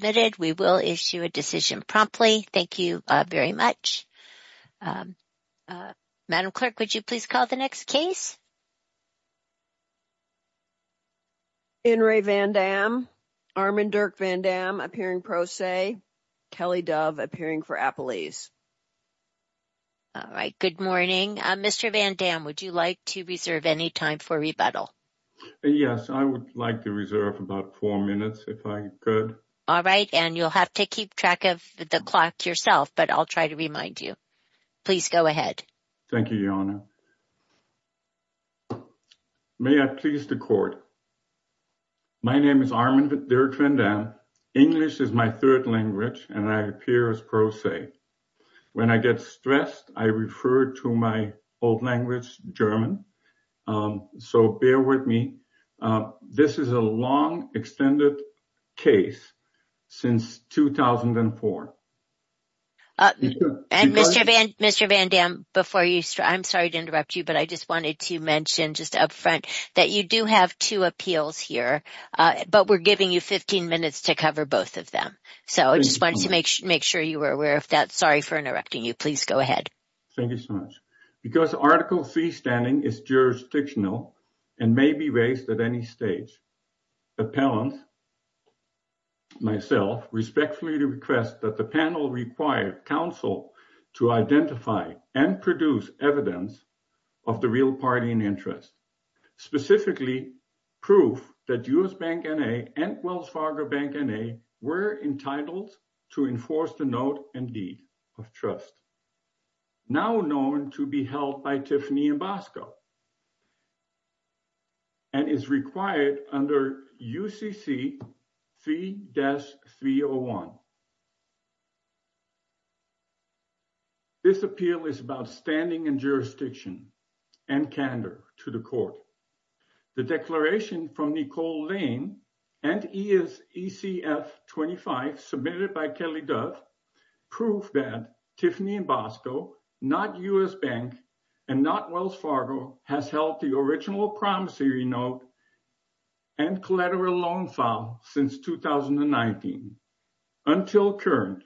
In re Van Damme, Armin Dirk Van Damme appearing pro se, Kelly Dove appearing for Appalese. All right, good morning. Mr. Van Damme, would you like to reserve any time for rebuttal? Yes, I would like to reserve about four minutes if I could. All right, and you'll have to keep track of the clock yourself, but I'll try to remind you. Please go ahead. Thank you, Your Honor. May I please the court? My name is Armin Dirk Van Damme. English is my third language, and I appear as pro se. When I get stressed, I refer to my old language, German, so bear with me. This is a long extended case since 2004. And Mr. Van Damme, I'm sorry to interrupt you, but I just wanted to mention just up front that you do have two appeals here, but we're giving you 15 minutes to cover both of them. So I just wanted to make sure you were aware of that. Sorry for interrupting you. Please go ahead. Thank you so much. Because Article C standing is jurisdictional and may be raised at any stage, appellants, myself, respectfully request that the panel require counsel to identify and produce evidence of the real party in interest, specifically proof that US Bank N.A. and now known to be held by Tiffany and Bosco and is required under UCC 3-301. This appeal is about standing and jurisdiction and candor to the court. The declaration from Nicole Lane and ECF 25 submitted by Kelly Dove prove that Tiffany and Bosco, not US Bank and not Wells Fargo, has held the original promissory note and collateral loan file since 2019 until current.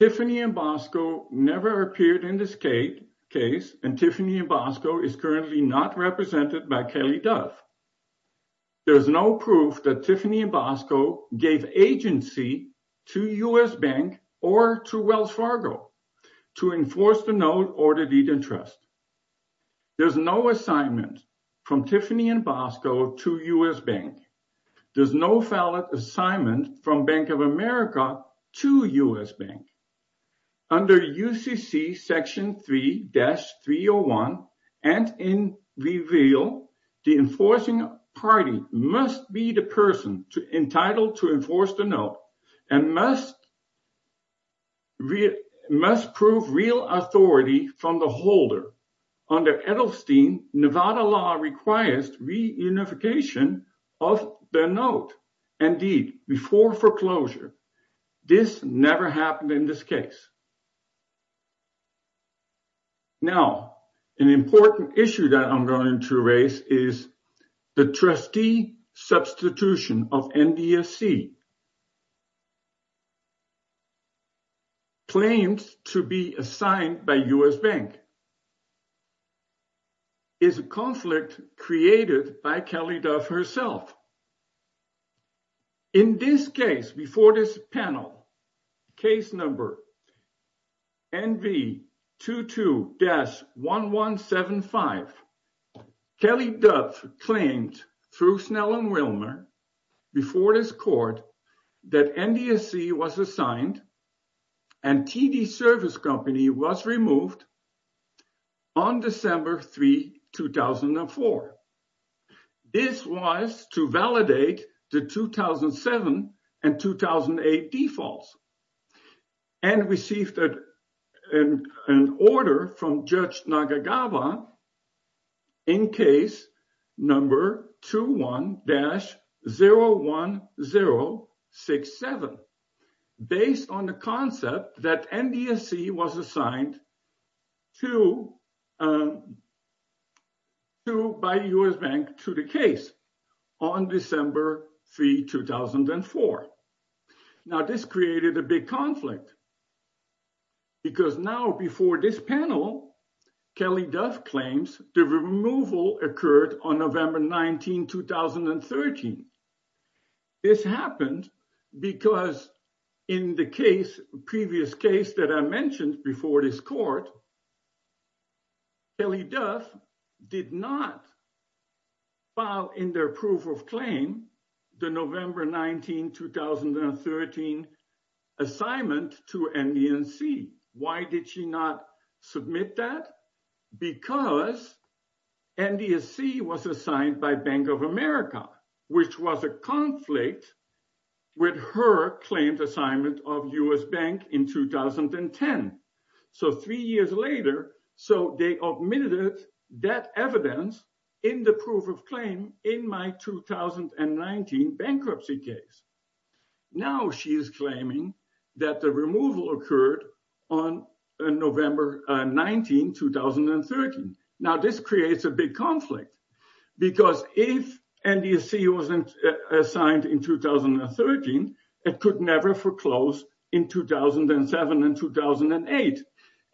Tiffany and Bosco never appeared in this case, and Tiffany and Bosco is currently not represented by Kelly Dove. There's no proof that Tiffany and Bosco gave agency to US Bank or to Wells Fargo to enforce the note or the deed of interest. There's no assignment from Tiffany and Bosco to US Bank. There's no valid assignment from Bank of America to US Bank. Under UCC Section 3-301 and in the reveal, the enforcing party must be the person entitled to enforce the note and must prove real authority from the holder. Under Edelstein, Nevada law requires reunification of the note and deed before foreclosure. This never happened in this case. Now, an important issue that I'm going to raise is the trustee substitution of NDSC claims to be assigned by US Bank is a conflict created by Kelly Dove herself. In this case, before this panel, case number NV22-1175, Kelly Dove claimed through Snell and Wilmer before this court that NDSC was assigned and TD Service Company was removed on December 3, 2004. This was to validate the 2007 and 2008 defaults and received an order from Judge Snell to buy US Bank to the case on December 3, 2004. Now, this created a big conflict because now before this panel, Kelly Dove claims the removal occurred on November 19, 2013. This happened because in the previous case that I mentioned before this court, Kelly Dove did not file in their proof of claim the November 19, 2013 assignment to NDSC. Why did she not submit that? Because NDSC was assigned by Bank of America, which was a conflict with her assignment of US Bank in 2010. Three years later, they omitted that evidence in the proof of claim in my 2019 bankruptcy case. Now, she is claiming that the removal occurred on November 19, 2013. Now, this creates a big conflict because if NDSC was assigned in 2013, it could never foreclose in 2007 and 2008.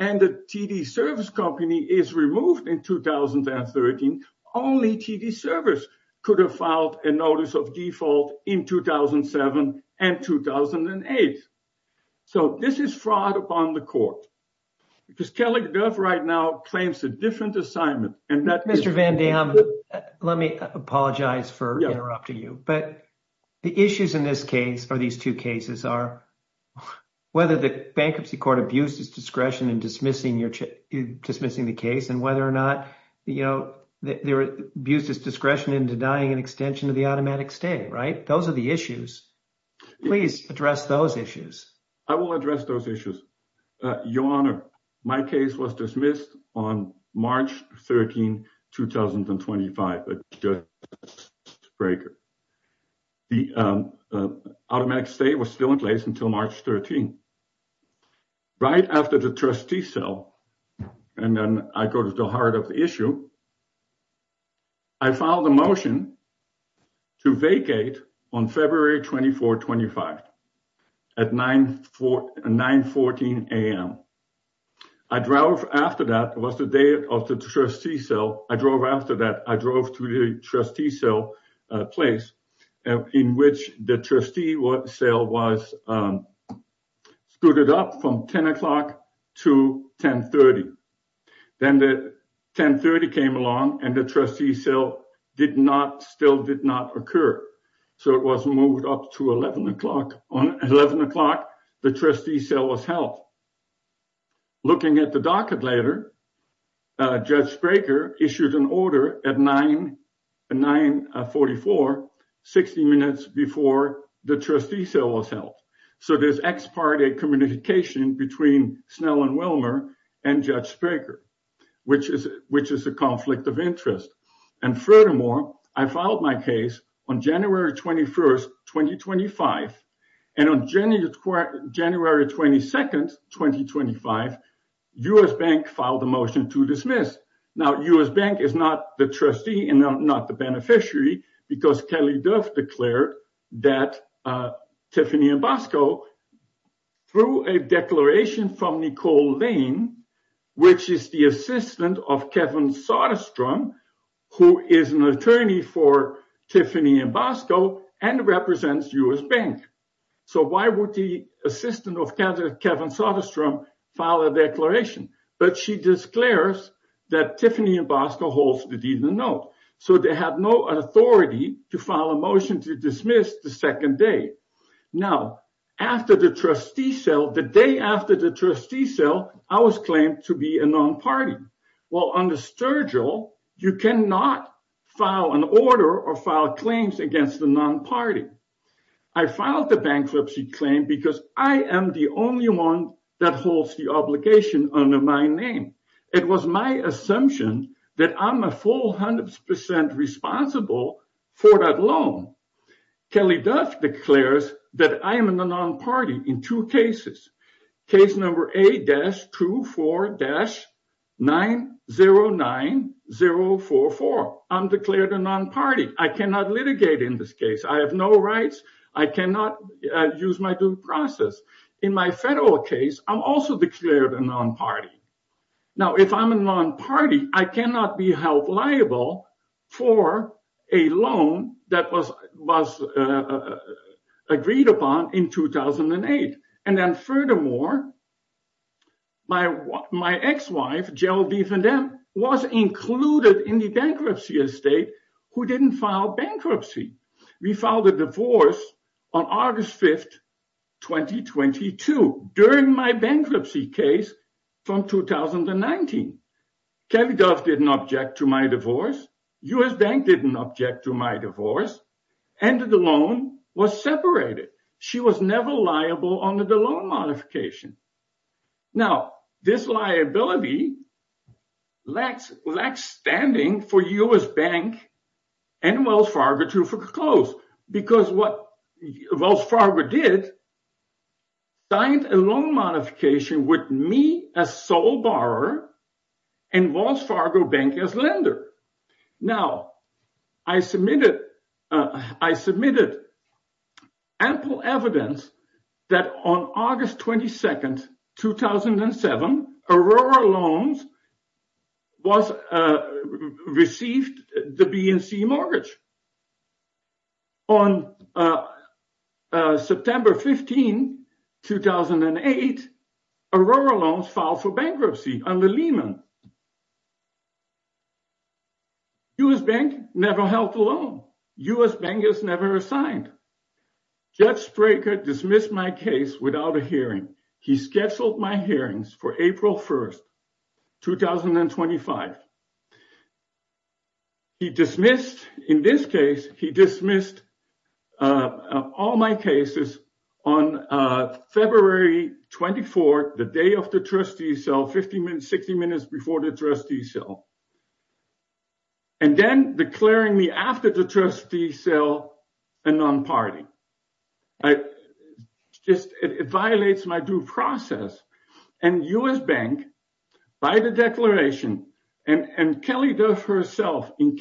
And the TD Service Company is removed in 2013, only TD Service could have filed a notice of default in 2007 and 2008. So, this is fraud upon the court because Kelly Dove right now claims a different assignment. And that is- Mr. Van Dam, let me apologize for interrupting you. But the issues in this case or these two cases are whether the bankruptcy court abused its discretion in dismissing the case and whether or not they abused its discretion in denying an extension to the automatic stay, right? Those are the issues. Please address those issues. I will address those issues. Your Honor, my case was dismissed on March 13, 2025. The automatic stay was still in place until March 13. Right after the trustee cell, and then I go to the heart of the issue, I filed a motion to vacate on February 24, 25 at 9.14 a.m. I drove after that. It was the day of the trustee cell. I drove after that. I drove to the trustee cell place in which the trustee cell was scooted up from 10 o'clock to 10.30. Then the 10.30 came along and the trustee cell still did not occur. So, it was moved up to 11 o'clock. On 11 o'clock, the trustee cell was held. Looking at the docket later, Judge Spraker issued an order at 9.44, 60 minutes before the trustee cell was held. So, there's ex parte communication between Snell and Wilmer and Judge Spraker, which is a conflict of interest. Furthermore, I filed my case on January 21, 2025. On January 22, 2025, U.S. Bank filed a motion to dismiss. Now, U.S. Bank is not the trustee and not the beneficiary because Kelly Dove declared that Tiffany and Bosco, through a declaration from Nicole Lane, which is the assistant of Kevin Soderstrom, who is an attorney for Tiffany and Bosco, and represents U.S. Bank. So, why would the assistant of Kevin Soderstrom file a declaration? But she declares that Tiffany and Bosco holds the deed in the note. So, they have no authority to file a motion to dismiss the second day. Now, after the trustee cell, the day after the trustee cell, I was claimed to be a non-party. Well, under Sturgill, you cannot file an order or file claims against a non-party. I filed the bankruptcy claim because I am the only one that holds the obligation under my name. It was my assumption that I'm a full 100% responsible for that loan. Kelly Dove declares that I am a non-party in two cases. Case number A-24-909044. I'm declared a non-party. I cannot litigate in this case. I have no rights. I cannot use my due process. In my federal case, I'm also declared a non-party. Now, if I'm a non-party, I cannot be held liable for a loan that was agreed upon in 2008. And then furthermore, my ex-wife, Geraldine Van Damme, was included in the bankruptcy estate who didn't file bankruptcy. We filed a divorce on August 5, 2022, during my bankruptcy case from 2019. Kelly Dove didn't object to my divorce. U.S. Bank didn't object to my divorce. And the loan was separated. She was never liable under the loan modification. Now, this liability lacks standing for U.S. Bank and Wells Fargo to foreclose. Because what Wells Fargo did, signed a loan modification with me as sole borrower and Wells Fargo Bank as lender. Now, I submitted ample evidence that on August 15, 2008, Aurora Loans filed for bankruptcy under Lehman. U.S. Bank never held the loan. U.S. Bank is never assigned. Jeff Straker dismissed my case without a hearing. He scheduled my hearings for April 1, 2025. He dismissed, in this case, he dismissed all my cases on February 24, the day of the trustee sale, 60 minutes before the trustee sale. And then declaring me after the trustee sale a non-party. It violates my due process. And U.S. Bank, by the declaration, and Kelly Dove herself, in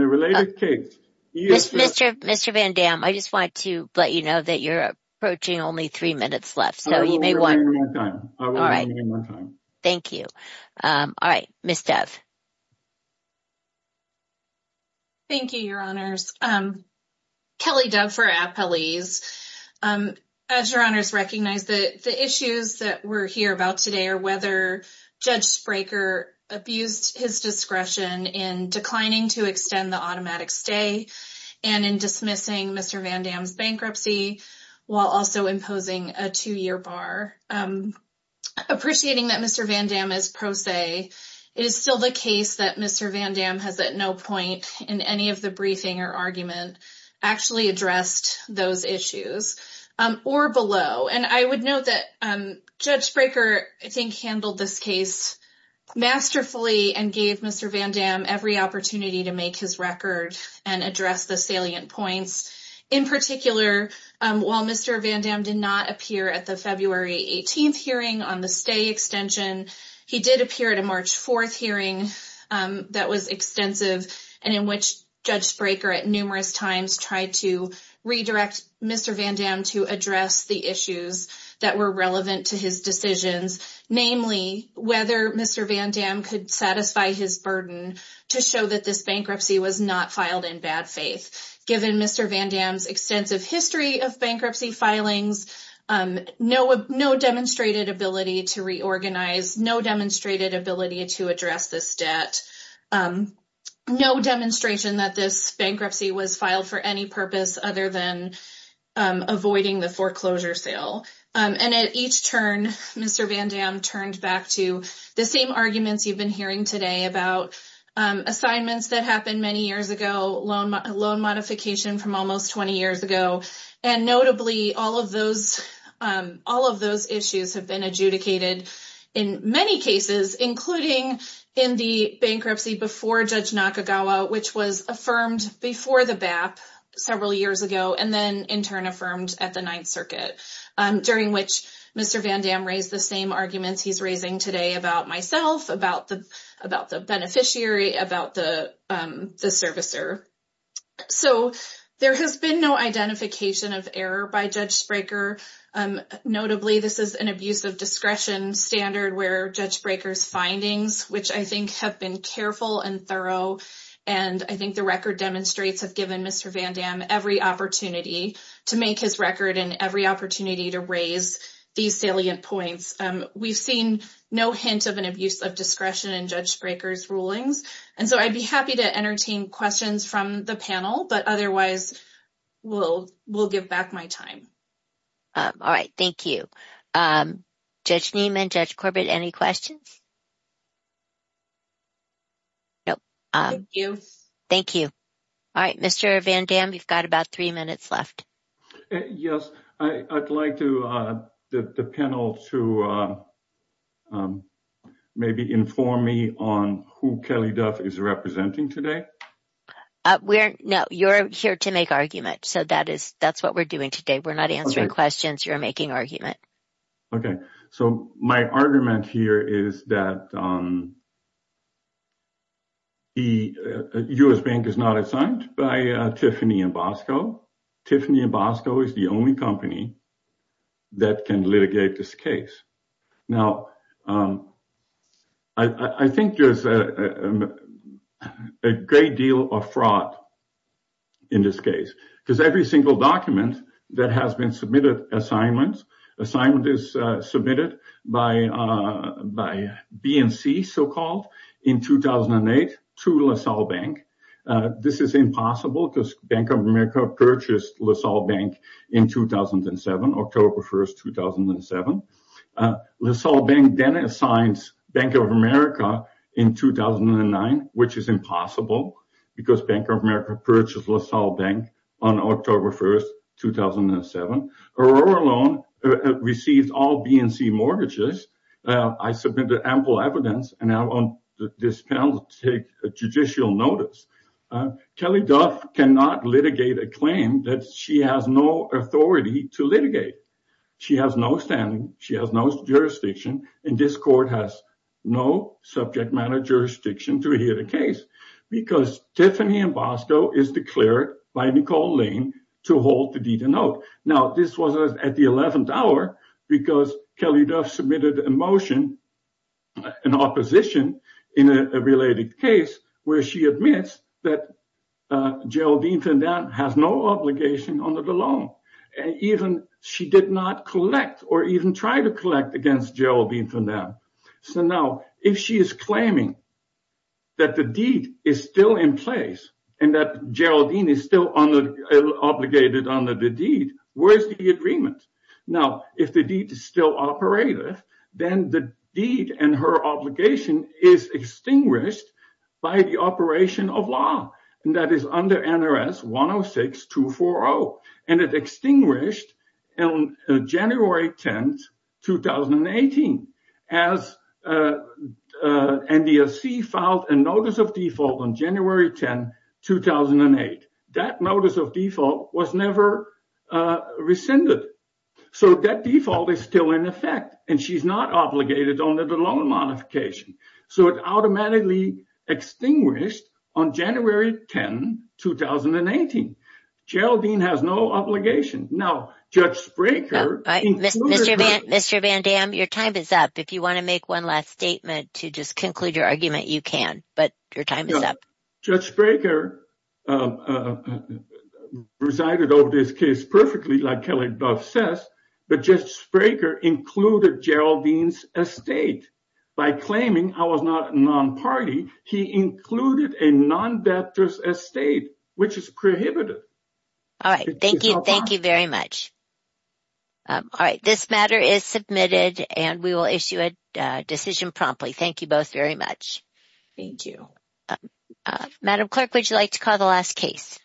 a related case. Mr. Van Dam, I just wanted to let you know that you're approaching only three minutes left. I will give you more time. I will give you more time. Thank you. All right. Ms. Dove. Thank you, your honors. Kelly Dove for Appalese. As your honors recognize, the issues that we're here about today are whether Judge Straker abused his discretion in declining to extend the automatic stay and in dismissing Mr. Van Dam's bankruptcy while also imposing a two-year bar. Appreciating that Mr. Van Dam is pro se, it is still the case that Mr. Van Dam has at no point in any of the briefing or argument actually addressed those issues or below. And I would note that Judge Straker, I think, handled this case masterfully and gave Mr. Van Dam every opportunity to make his record and address the salient points. In particular, while Mr. Van Dam did not appear at the February 18th hearing on the stay extension, he did appear at a March 4th hearing that was extensive and in which Judge Straker at numerous times tried to redirect Mr. Van Dam to address the issues that were relevant to his decisions. Namely, whether Mr. Van Dam could satisfy his burden to show that this bankruptcy was not filed in bad faith. Given Mr. Van Dam's extensive history of bankruptcy filings, no demonstrated ability to reorganize, no demonstrated ability to address this debt, no demonstration that this bankruptcy was filed for any purpose other than avoiding the foreclosure sale. And at each turn, Mr. Van Dam turned back to the same arguments you've been hearing today about assignments that happened many years ago, loan modification from almost 20 years ago. And notably, all of those issues have been adjudicated in many cases, including in the bankruptcy before Judge Nakagawa, which was affirmed before the BAP several years ago and then in turn affirmed at the Ninth Circuit, during which Mr. Van Dam raised the same arguments he's raising today about myself, about the beneficiary, about the servicer. So there has been no identification of error by Judge Straker. Notably, this is an abuse of discretion standard where Judge Braker's findings, which I think have been careful and thorough, and I think the record demonstrates have given Mr. Van Dam every opportunity to make his record and every opportunity to raise these salient points. We've seen no hint of an abuse of discretion in Judge Braker's rulings. And so I'd be happy to entertain questions from the panel, but otherwise we'll give back my time. All right. Thank you. Judge Niemann, Judge Corbett, any questions? No. Thank you. Thank you. All right. Mr. Van Dam, you've got about three minutes left. Yes. I'd like the panel to maybe inform me on who Kelly Duff is representing today. No. You're here to make argument. So that's what we're doing today. We're not answering questions. You're making argument. Okay. So my argument here is that the U.S. Bank is not assigned by Tiffany and Bosco. Tiffany and Bosco is the only company that can litigate this case. Now, I think there's a great deal of fraud in this case, because every single document that has been submitted assignments, assignment is submitted by BNC, so-called, in 2008 to LaSalle Bank. This is impossible because Bank of America purchased LaSalle Bank in 2007, October 1st, 2007. LaSalle Bank then assigned Bank of America in 2009, which is impossible because Bank of America purchased LaSalle Bank on October 1st, 2007. Aurora Loan received all BNC mortgages. I submitted ample evidence, and now I want this panel to take judicial notice. Kelly Duff cannot litigate a claim that she has no authority to litigate. She has no standing. She has no jurisdiction, and this court has no subject matter jurisdiction to hear the case, because Tiffany and Bosco is declared by Nicole Lane to hold the deed in note. Now, this was at the 11th hour, because Kelly Duff submitted a motion, an opposition in a related case, where she admits that Geraldine Fandan has no obligation under the loan. She did not collect or even try to collect against Geraldine Fandan. Now, if she is claiming that the deed is still in place and that Geraldine is still obligated under the deed, where is the agreement? Now, if the deed is still operative, then the deed and her obligation is extinguished by the operation of law, and that is under NRS 106-240, and it extinguished on January 10, 2018, as NDSC filed a notice of default on January 10, 2008. That notice of default was never rescinded, so that default is still in effect, and she's not obligated under the loan modification, so it automatically extinguished on January 10, 2018. Geraldine has no obligation. Now, Judge Spraker... Mr. Van Dam, your time is up. If you want to make one last statement to just conclude your argument, you can, but your time is up. Judge Spraker presided over this case perfectly, like Kelly Duff says, but Judge Spraker included Geraldine's estate. By claiming I was not a non-party, he included a non-debtor's estate, which is prohibited. All right. Thank you. Thank you very much. All right. This matter is submitted, and we will issue a decision promptly. Thank you both very much. Thank you. Madam Clerk, would you like to call the last case?